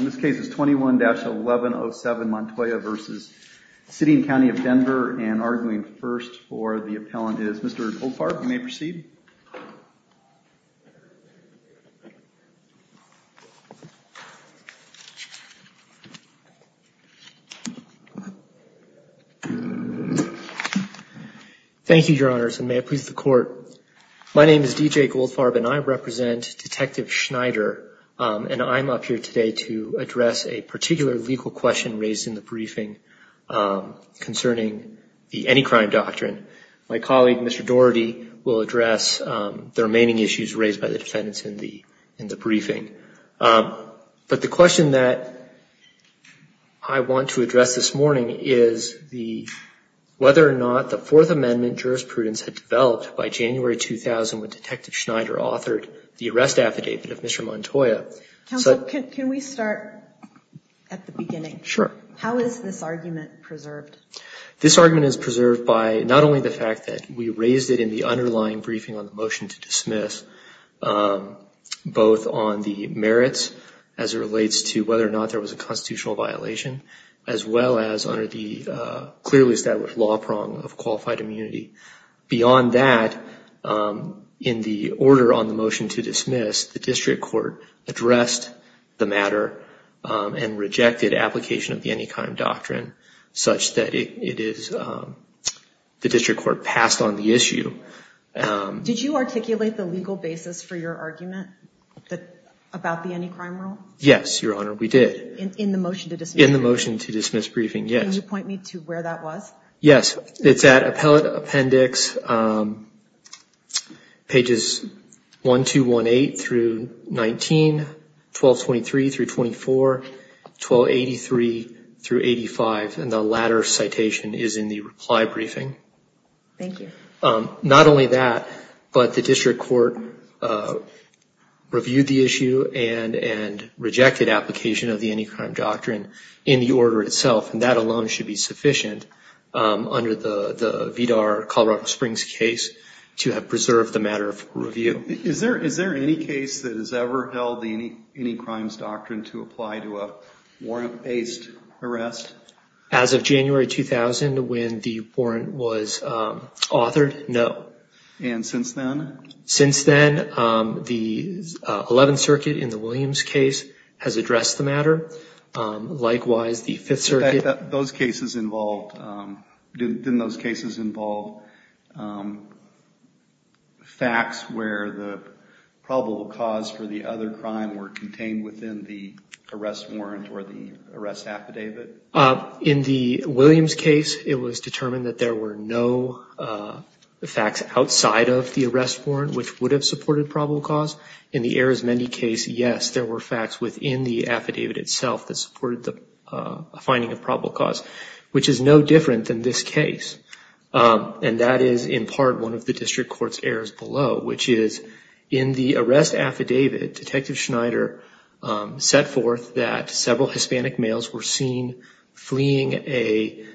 This case is 21-1107 Montoya v. City and County of Denver and arguing first for the appellant is Mr. Goldfarb. You may proceed. Thank you, Your Honors, and may it please the Court. My name is D.J. Goldfarb and I am up here today to address a particular legal question raised in the briefing concerning the Any Crime Doctrine. My colleague, Mr. Doherty, will address the remaining issues raised by the defendants in the briefing. But the question that I want to address this morning is whether or not the Fourth Amendment jurisprudence had developed by January 2000 when Detective Schneider authored the arrest affidavit of Mr. Montoya. Counsel, can we start at the beginning? Sure. How is this argument preserved? This argument is preserved by not only the fact that we raised it in the underlying briefing on the motion to dismiss, both on the merits as it relates to whether or not there was a constitutional violation, as well as under the clearly established law prong of qualified immunity. Beyond that, in the order on the motion to dismiss, the District Court addressed the matter and rejected application of the Any Crime Doctrine such that the District Court passed on the issue. Did you articulate the legal basis for your argument about the Any Crime Rule? Yes, Your Honor, we did. In the motion to dismiss? In the motion to dismiss briefing, yes. Can you point me to where that was? Yes, it's at Appellate Appendix pages 1218-19, 1223-24, 1283-85, and the latter citation is in the reply briefing. Thank you. Not only that, but the District Court reviewed the issue and rejected application of the under the VDAR Colorado Springs case to have preserved the matter for review. Is there any case that has ever held the Any Crimes Doctrine to apply to a warrant-based arrest? As of January 2000, when the warrant was authored, no. And since then? Since then, the 11th Circuit in the Williams case has addressed the matter. Likewise, the 5th Circuit... Didn't those cases involve facts where the probable cause for the other crime were contained within the arrest warrant or the arrest affidavit? In the Williams case, it was determined that there were no facts outside of the arrest warrant which would have supported probable cause. In the Arizmendi case, yes, there were facts within the affidavit itself that supported a finding of probable cause, which is no different than this case. And that is in part one of the District Court's errors below, which is in the arrest affidavit, Detective Schneider set forth that several Hispanic males were seen fleeing a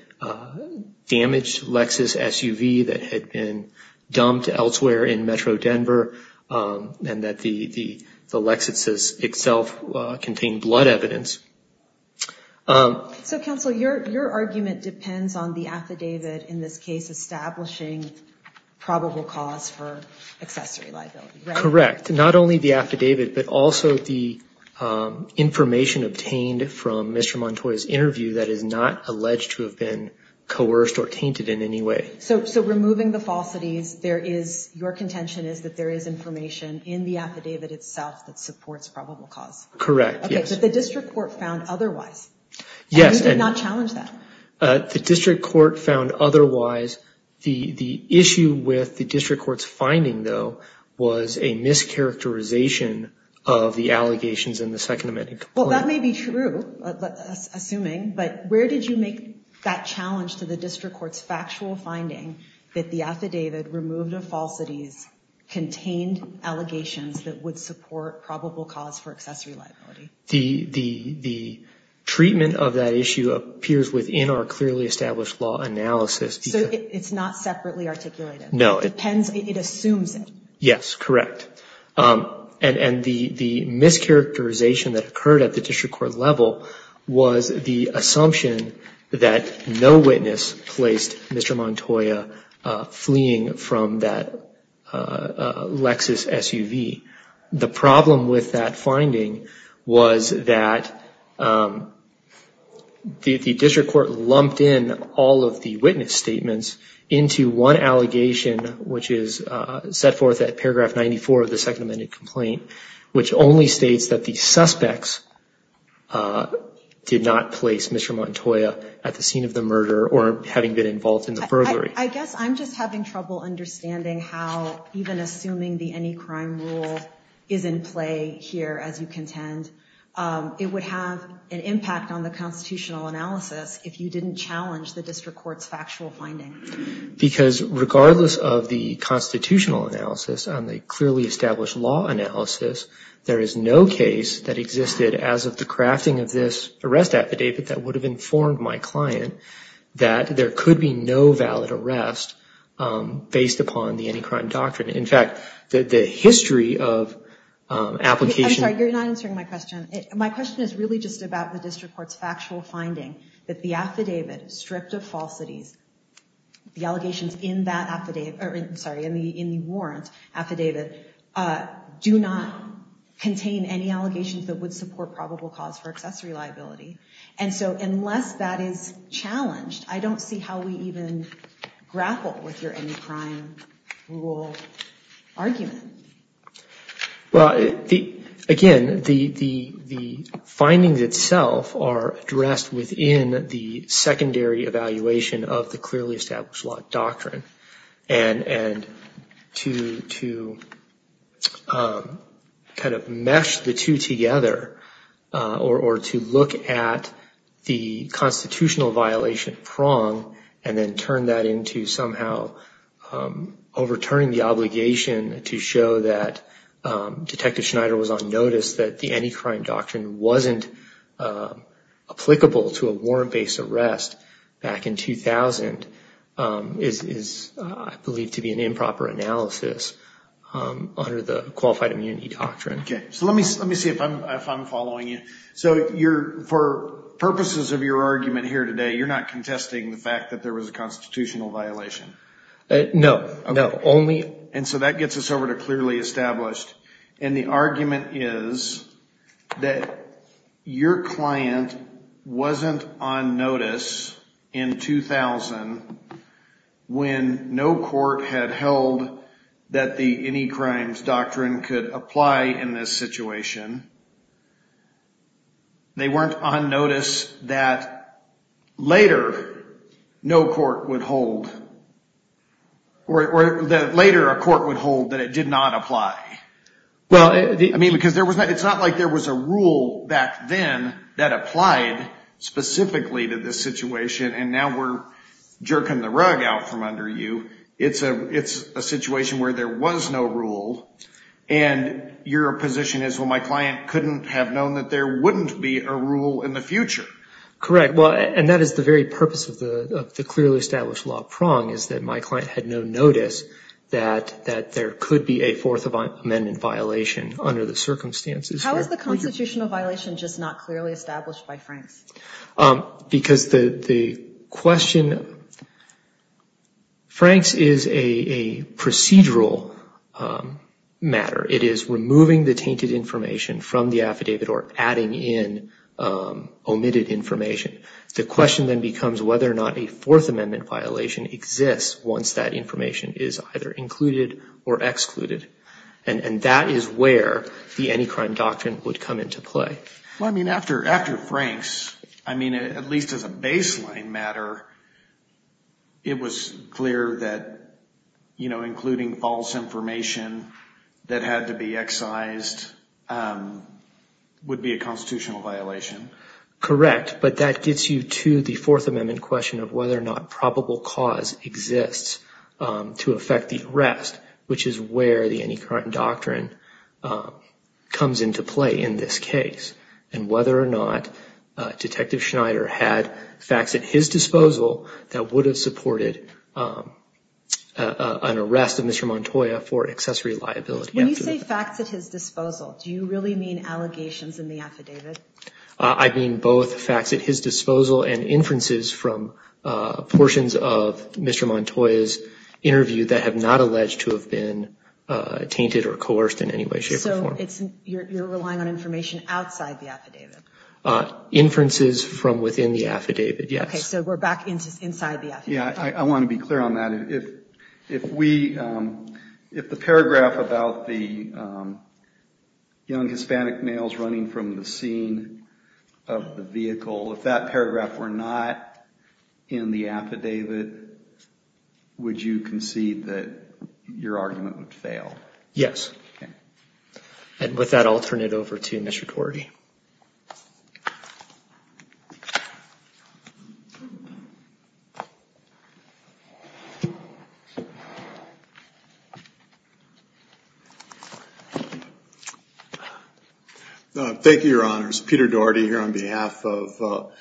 damaged Lexus SUV that had been dumped elsewhere in Metro Denver and that the Lexus itself contained blood evidence. So counsel, your argument depends on the affidavit in this case establishing probable cause for accessory liability, right? Correct. Not only the affidavit, but also the information obtained from Mr. Montoya's interview that is not alleged to have been coerced or tainted in any way. So removing the falsities, your contention is that there is information in the affidavit itself that supports probable cause? Correct, yes. Okay, but the District Court found otherwise? Yes. And you did not challenge that? The District Court found otherwise. The issue with the District Court's finding, though, was a mischaracterization of the allegations in the Second Amendment complaint. Well, that may be true, assuming, but where did you make that challenge to the District Court's factual finding that the affidavit removed of falsities contained allegations that would support probable cause for accessory liability? The treatment of that issue appears within our clearly established law analysis. So it's not separately articulated? No. It assumes it? Yes, correct. And the mischaracterization that occurred at the District Court level was the assumption that no witness placed Mr. Montoya fleeing from that Lexus SUV. The problem with that finding was that the District Court lumped in all of the witness statements into one allegation, which is set forth at paragraph 94 of the Second Amendment complaint, which only states that the suspects did not place Mr. Montoya at the scene of the murder or having been involved in the burglary. I guess I'm just having trouble understanding how even assuming the any crime rule is in play here, as you contend, it would have an impact on the constitutional analysis if you didn't challenge the District Court's factual finding. Because regardless of the constitutional analysis and the clearly established law analysis, there is no case that existed as of the crafting of this arrest affidavit that would have informed my client that there could be no valid arrest based upon the any crime doctrine. In fact, the history of application... I'm sorry, you're not answering my question. My question is really just about the District Court's factual finding that the affidavit stripped of falsities, the allegations in that affidavit... I'm sorry, in the warrant affidavit do not contain any allegations that would support probable cause for accessory liability. And so unless that is challenged, I don't see how we even grapple with your any crime rule argument. Well, again, the findings itself are addressed within the secondary evaluation of the clearly established law doctrine. And to kind of mesh the two together or to look at the constitutional violation prong and then turn that into somehow overturning the obligation to show that Detective Schneider was on notice that the any crime doctrine wasn't applicable to a warrant-based arrest back in 2000 is, I believe, to be an improper analysis under the qualified immunity doctrine. Okay. So let me see if I'm following you. So for purposes of your argument here today, you're not contesting the fact that there was a constitutional violation? No. No. Okay. And so that gets us over to clearly established. And the argument is that your client wasn't on notice in 2000 when no court had held that the any crimes doctrine could apply in this situation. They weren't on notice that later no court would hold or that later a court would hold that it did not apply. Well, I mean, because it's not like there was a rule back then that applied specifically to this situation. And now we're jerking the rug out from under you. It's a situation where there was no rule. And your position is, well, my client couldn't have known that there wouldn't be a rule in the future. Correct. Well, and that is the very purpose of the clearly established law prong is that my client had no notice that there could be a Fourth Amendment violation under the circumstances. How is the constitutional violation just not clearly established by Franks? Because the question, Franks is a procedural matter. It is removing the tainted information from the affidavit or adding in omitted information. The question then becomes whether or not a Fourth Amendment violation exists once that information is either included or excluded. And that is where the any crime doctrine would come into play. Well, I mean, after Franks, I mean, at least as a baseline matter, it was clear that, you know, including false information that had to be excised would be a constitutional violation. Correct. But that gets you to the Fourth Amendment question of whether or not probable cause exists to affect the arrest, which is where the any crime doctrine comes into play in this case and whether or not Detective Schneider had facts at his disposal that would have supported an arrest of Mr. Montoya for accessory liability. When you say facts at his disposal, do you really mean allegations in the affidavit? I mean both facts at his disposal and inferences from portions of Mr. Montoya's interview that have not alleged to have been tainted or coerced in any way, shape, or form. So you're relying on information outside the affidavit? Inferences from within the affidavit, yes. Okay, so we're back inside the affidavit. Yeah, I want to be clear on that. If the paragraph about the young Hispanic males running from the scene of the vehicle, if that paragraph were not in the affidavit, would you concede that your argument would fail? Yes. Okay. And with that, I'll turn it over to Mr. Cordy. Thank you, Your Honors. Peter Daugherty here on behalf of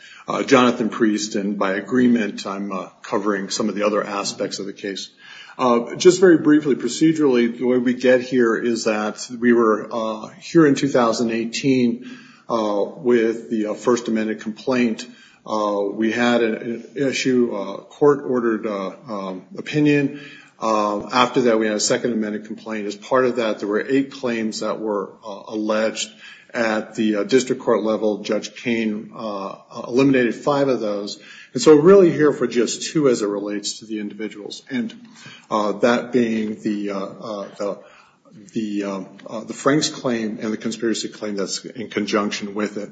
Jonathan Priest. And by agreement, I'm covering some of the other aspects of the case. Just very briefly, procedurally, the way we get here is that we were here in 2018 with the First Amendment complaint. We had an issue, a court-ordered opinion. After that, we had a Second Amendment complaint. As part of that, there were eight claims that were alleged at the district court level. Judge Koehn eliminated five of those. And so we're really here for just two as it relates to the individuals. And that being the Franks claim and the conspiracy claim that's in conjunction with it.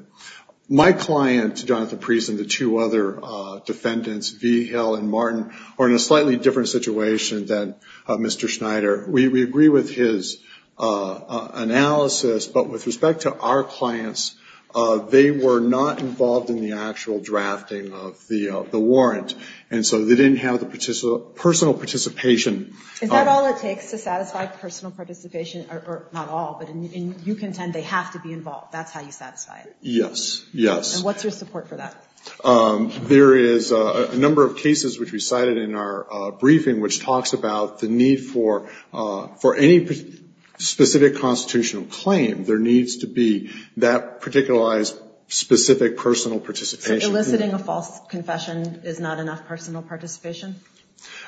My client, Jonathan Priest, and the two other defendants, Vigel and Martin, are in a slightly different situation than Mr. Schneider. We agree with his analysis, but with respect to our clients, they were not involved in the actual drafting of the warrant. And so they didn't have the personal participation. Is that all it takes to satisfy personal participation? Or not all, but you contend they have to be involved. That's how you satisfy it? Yes, yes. And what's your support for that? There is a number of cases, which we cited in our briefing, which talks about the need for any specific constitutional claim, there needs to be that particularized specific personal participation. So eliciting a false confession is not enough personal participation?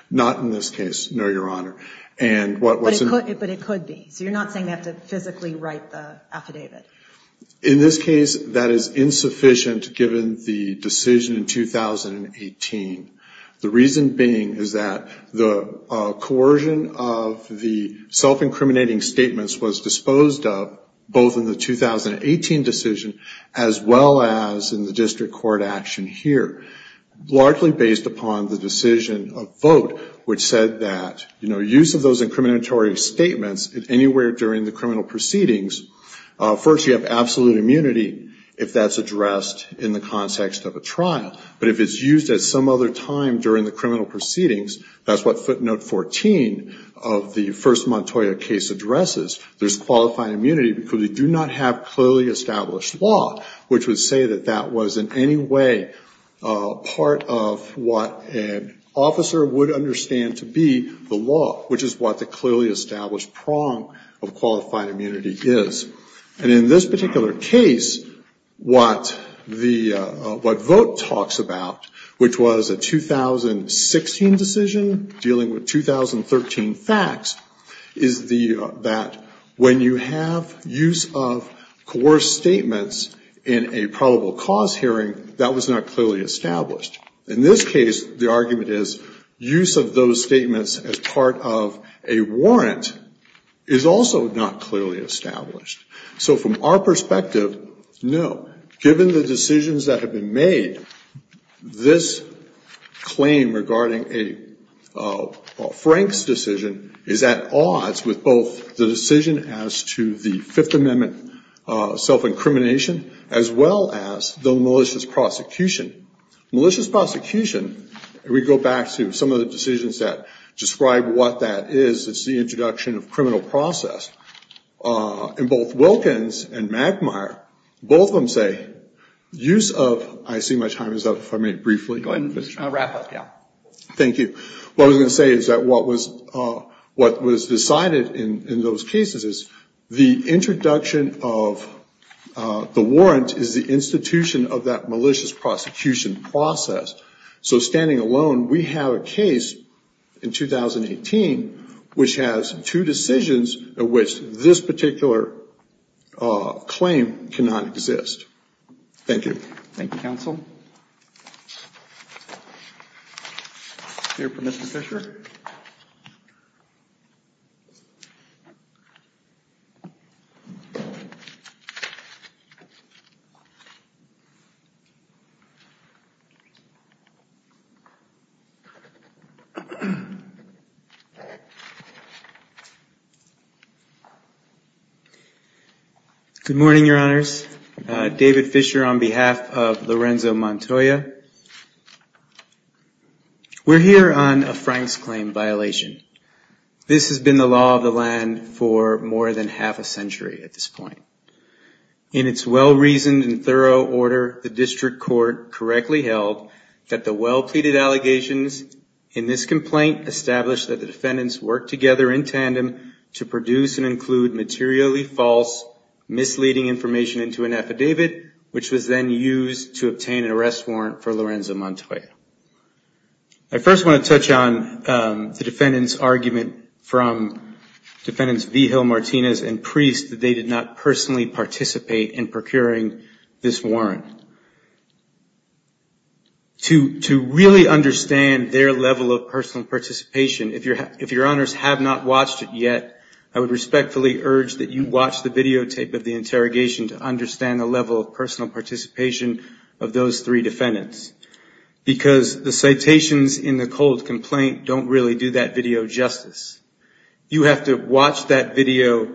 Not in this case, no, Your Honor. But it could be. So you're not saying they have to physically write the affidavit? In this case, that is insufficient given the decision in 2018. The reason being is that the coercion of the self-incriminating statements was disposed of both in the 2018 decision as well as in the district court action here, largely based upon the decision of vote, which said that use of those incriminatory statements anywhere during the criminal proceedings, first you have absolute immunity if that's addressed in the context of a trial. But if it's used at some other time during the criminal proceedings, that's what footnote 14 of the first Montoya case addresses, there's qualifying immunity because we do not have clearly established law, which would say that that was in any way part of what an officer would understand to be the law, which is what the clearly established prong of qualified immunity is. And in this particular case, what vote talks about, which was a 2016 decision dealing with 2013 facts, is that when you have use of coerced statements in a probable cause hearing, that was not clearly established. In this case, the argument is use of those statements as part of a warrant is also not clearly established. So from our perspective, no. Given the decisions that have been made, this claim regarding a Franks decision is at odds with both the decision as to the Fifth Amendment self-incrimination as well as the malicious prosecution. Malicious prosecution, we go back to some of the decisions that describe what that is, it's the introduction of criminal process. In both Wilkins and Magmire, both of them say use of, I see my time is up if I may briefly. Go ahead and wrap up, yeah. Thank you. What I was going to say is that what was decided in those cases is the introduction of the warrant is the institution of that malicious prosecution process. So standing alone, we have a case in 2018 which has two decisions in which this particular claim cannot exist. Thank you. Thank you, counsel. Your permission, Mr. Fisher. Good morning, Your Honors. David Fisher on behalf of Lorenzo Montoya. We're here on a Franks claim violation. This has been the law of the land for more than half a century at this point. In its well-reasoned and thorough order, the district court correctly held that the well-pleaded allegations in this complaint established that the defendants worked together in tandem to produce and include materially false misleading information into an affidavit, which was then used to obtain an arrest warrant for Lorenzo Montoya. I first want to touch on the defendant's argument from defendants Vigil, Martinez, and Priest that they did not personally participate in procuring this warrant. To really understand their level of personal participation, if Your Honors have not watched it yet, I would respectfully urge that you watch the videotape of the interrogation to understand the level of personal participation of those three defendants, because the citations in the cold complaint don't really do that video justice. You have to watch that video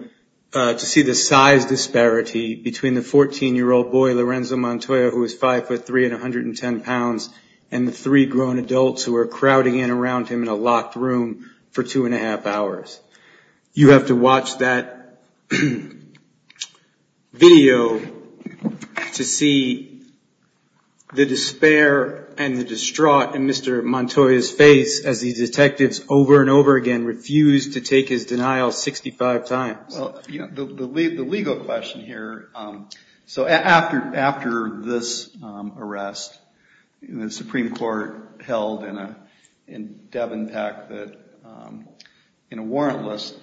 to see the size disparity between the 14-year-old boy, Lorenzo Montoya, who is 5'3 and 110 pounds, and the three grown adults who are crowding in around him in a locked room for 2 1⁄2 hours. You have to watch that video to see the despair and the distraught in Mr. Montoya's face as these detectives over and over again refuse to take his denial 65 times. The legal question here, after this arrest, the Supreme Court held in Devin Peck that in a warrantless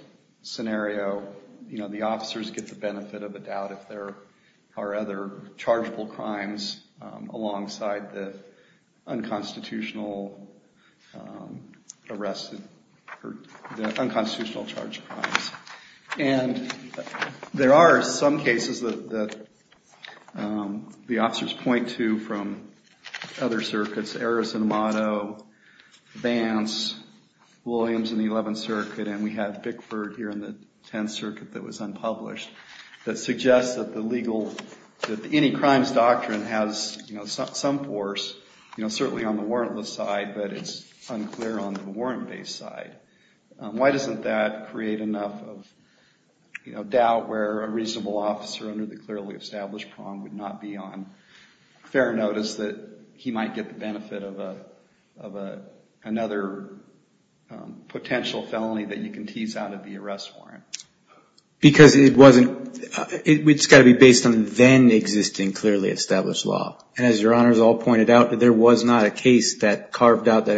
scenario, the officers get the benefit of the doubt if there are other chargeable crimes alongside the unconstitutional charged crimes. And there are some cases that the officers point to from other circuits, Errors in Motto, Vance, Williams in the 11th Circuit, and we have Bickford here in the 10th Circuit that was unpublished, that suggests that any crimes doctrine has some force, certainly on the warrantless side, but it's unclear on the warrant-based side. Why doesn't that create enough doubt where a reasonable officer under the clearly established prong would not be on fair notice that he might get the benefit of another potential felony that you can tease out of the arrest warrant? Because it's got to be based on then existing clearly established law. And as Your Honor has all pointed out, there wasn't a case that carved it out in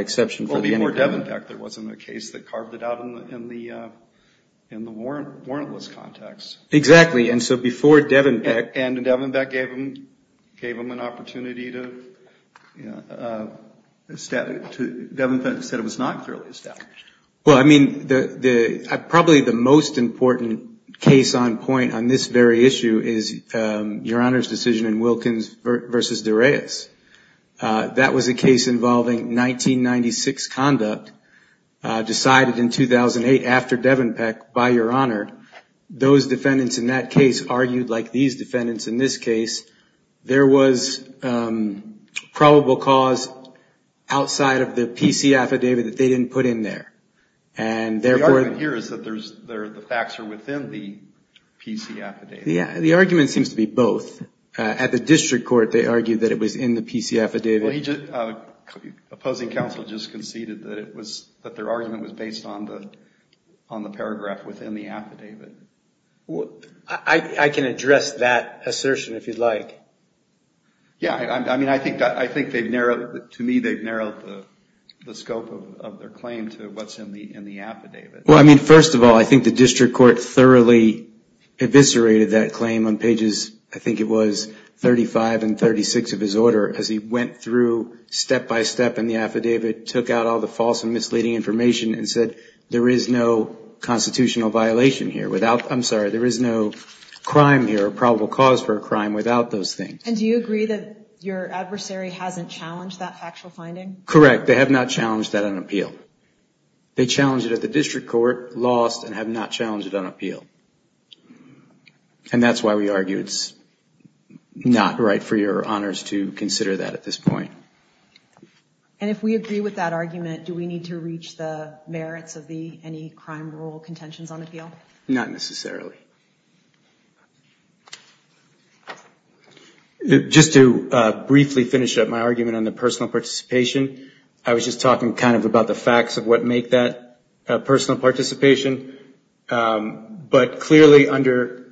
the warrantless context. Exactly. And so before Devin Peck. And Devin Peck gave him an opportunity to establish. Devin Peck said it was not clearly established. Well, I mean, probably the most important case on point on this very issue is Your Honor's decision in Wilkins v. Dureas. That was a case involving 1996 conduct, decided in 2008 after Devin Peck, by Your Honor. Those defendants in that case argued like these defendants in this case. There was probable cause outside of the PC affidavit that they didn't put in there. The argument here is that the facts are within the PC affidavit. Yeah, the argument seems to be both. At the district court they argued that it was in the PC affidavit. Opposing counsel just conceded that their argument was based on the paragraph within the affidavit. I can address that assertion if you'd like. Yeah, I mean, I think they've narrowed, to me, they've narrowed the scope of their claim to what's in the affidavit. Well, I mean, first of all, I think the district court thoroughly eviscerated that claim on pages, I think it was 35 and 36 of his order, as he went through step by step in the affidavit, took out all the false and misleading information and said, there is no constitutional violation here without, I'm sorry, there is no crime here or probable cause for a crime without those things. And do you agree that your adversary hasn't challenged that factual finding? Correct. They have not challenged that on appeal. They challenged it at the district court, lost, and have not challenged it on appeal. And that's why we argue it's not right for your honors to consider that at this point. And if we agree with that argument, do we need to reach the merits of any crime rule contentions on appeal? Not necessarily. Just to briefly finish up my argument on the personal participation, I was just talking kind of about the facts of what make that personal participation. But clearly under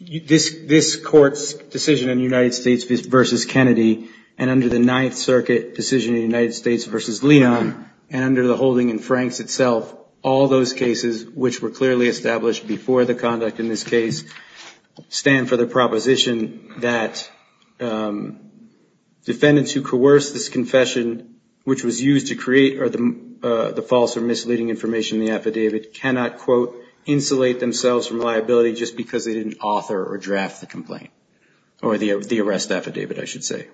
this, this court's decision in the United States versus Kennedy and under the ninth circuit decision in the United States versus Leon and under the holding in Franks itself, all those cases, which were clearly established before the conduct in this case, stand for the proposition that defendants who coerce this confession, which was used to create the false or misleading information in the affidavit, cannot quote, insulate themselves from liability just because they didn't author or draft the complaint or the arrest affidavit, I should say.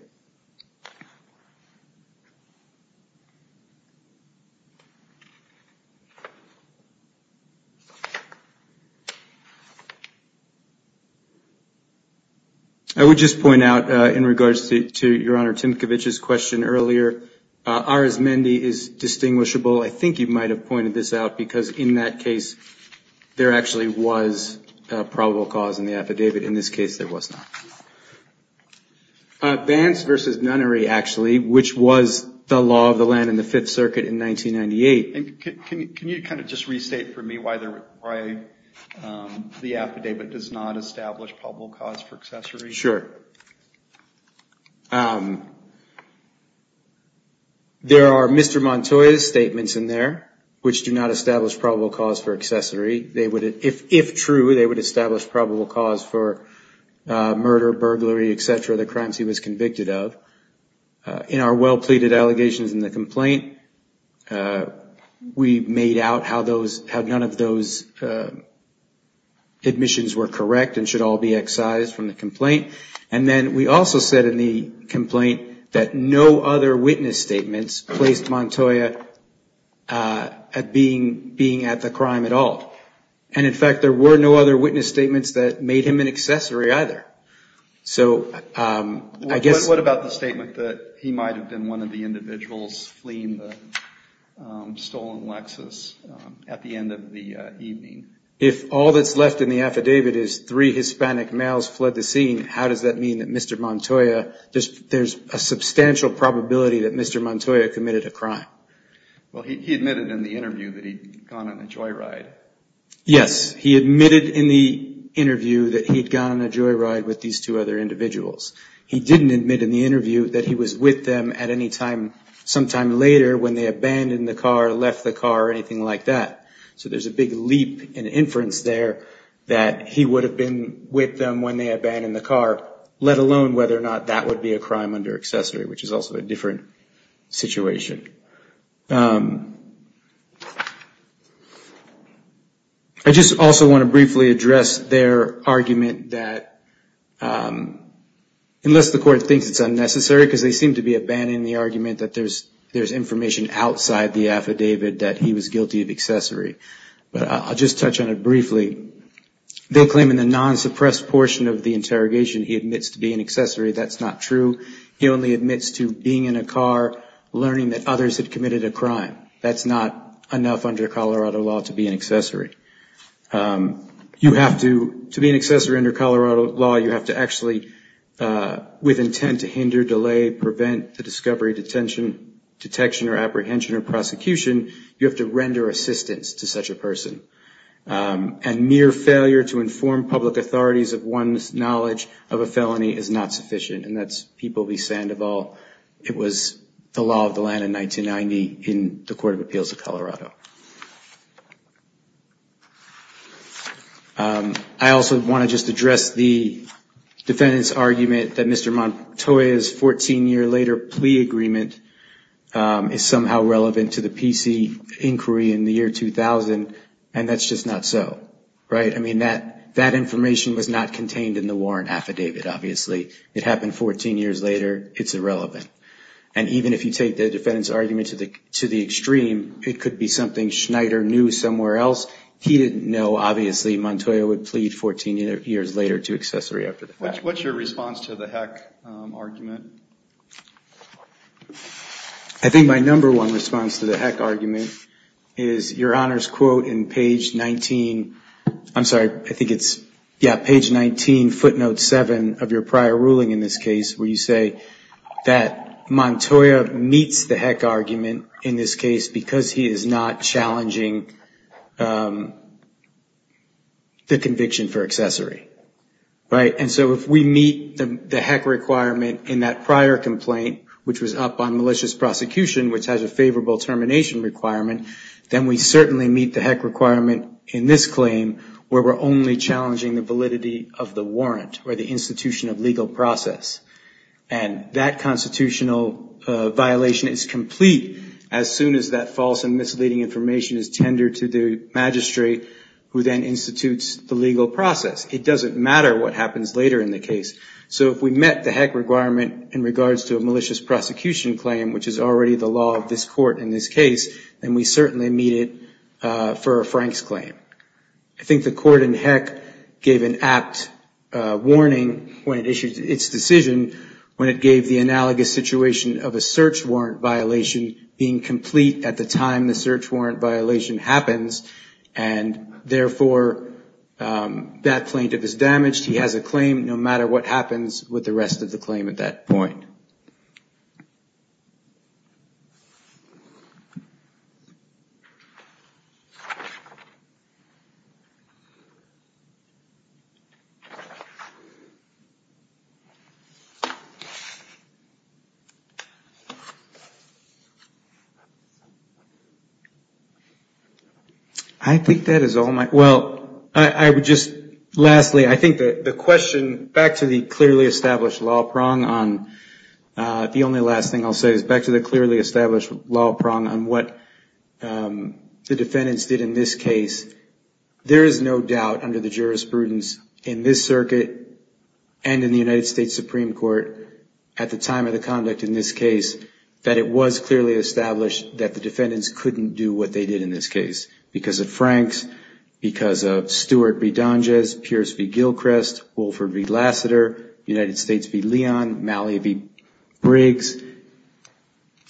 I would just point out in regards to your honor, Timkovich's question earlier, ours, Mendy is distinguishable. I think you might've pointed this out because in that case, there actually was a probable cause in the affidavit. In this case, there was not. Vance versus nunnery, actually, which was the law of the land in the fifth circuit in 1998. Can you kind of just restate for me why the affidavit does not establish probable cause for accessory? Sure. There are Mr. Montoya's statements in there, which do not establish probable cause for accessory. If true, they would establish probable cause for murder, burglary, et cetera, the crimes he was convicted of. In our well-pleaded allegations in the complaint, we made out how none of those admissions were correct and how they should all be excised from the complaint. Then we also said in the complaint that no other witness statements placed Montoya at being at the crime at all. In fact, there were no other witness statements that made him an accessory either. What about the statement that he might've been one of the individuals fleeing the stolen Lexus at the end of the evening? If all that's left in the affidavit is three Hispanic males fled the scene, how does that mean that Mr. Montoya, there's a substantial probability that Mr. Montoya committed a crime? Well, he admitted in the interview that he'd gone on a joyride. Yes. He admitted in the interview that he'd gone on a joyride with these two other individuals. He didn't admit in the interview that he was with them at any time sometime later when they abandoned the car, left the car, or anything like that. There's a big leap in inference there that he would've been with them when they abandoned the car, let alone whether or not that would be a crime under accessory, which is also a different situation. I just also want to briefly address their argument that unless the court thinks it's unnecessary, because they seem to be abandoning the argument that there's information outside the affidavit that he was guilty of accessory. I'll just touch on it briefly. They claim in the non-suppressed portion of the interrogation he admits to be an accessory. That's not true. He only admits to being in a car, learning that others had committed a crime. That's not enough under Colorado law to be an accessory. To be an accessory under Colorado law, you have to actually, with intent to hinder, delay, prevent the discovery, detection, or apprehension, or prosecution, you have to render assistance to such a person. And mere failure to inform public authorities of one's knowledge of a felony is not sufficient. And that's People v. Sandoval. It was the law of the land in 1990 in the Court of Appeals of Colorado. I also want to just address the defendant's argument that Mr. Montoya's 14-year later plea agreement is somehow relevant to the PC inquiry in the year 2000, and that's just not so. Right? I mean, that information was not contained in the warrant affidavit, obviously. It happened 14 years later. It's irrelevant. And even if you take the defendant's argument to the extreme, it could be something Schneider knew somewhere else. He didn't know, obviously, Montoya would plead 14 years later to accessory after the fact. What's your response to the Heck argument? I think my number one response to the Heck argument is your Honor's quote in page 19. I'm sorry, I think it's, yeah, page 19, footnote 7 of your prior ruling in this case, where you say that Montoya meets the Heck argument in this case because he is not challenging the conviction for accessory. Right? And so if we meet the Heck requirement in that prior complaint, which was up on malicious prosecution, which has a favorable termination requirement, then we certainly meet the Heck requirement in this claim, where we're only challenging the validity of the warrant or the institution of legal process. And that constitutional violation is complete as soon as that false and misleading information is tendered to the magistrate who then institutes the legal process. It doesn't matter what happens later in the case. So if we met the Heck requirement in regards to a malicious prosecution claim, which is already the law of this court in this case, then we certainly meet it for a Frank's claim. I think the court in Heck gave an apt warning when it issued its decision when it gave the analogous situation of a search warrant violation being complete at the time the search warrant violation happens, and therefore that plaintiff is damaged. He has a claim no matter what happens with the rest of the claim at that point. I think that is all my, well, I would just, lastly, I think that the question back to the clearly established law prong on the only last thing I'll say is back to the clearly established law prong on what the defendants did in this case. There is no doubt under the jurisprudence in this circuit and in the United States Supreme Court at the time of the conduct in this case that it was clearly established that the defendants couldn't do what they did in this case because of Frank's, because of Stewart v. Donges, Pierce v. Gilchrist, Wolford v. Lassiter, United States v. Leon, Malley v. Briggs.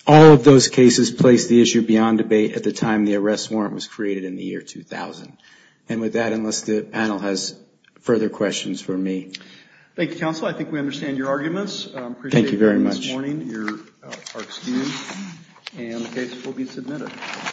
All of those cases place the issue beyond debate at the time the arrest warrant was created in the year 2000. And with that, unless the panel has further questions for me. Thank you, counsel. I think we understand your arguments.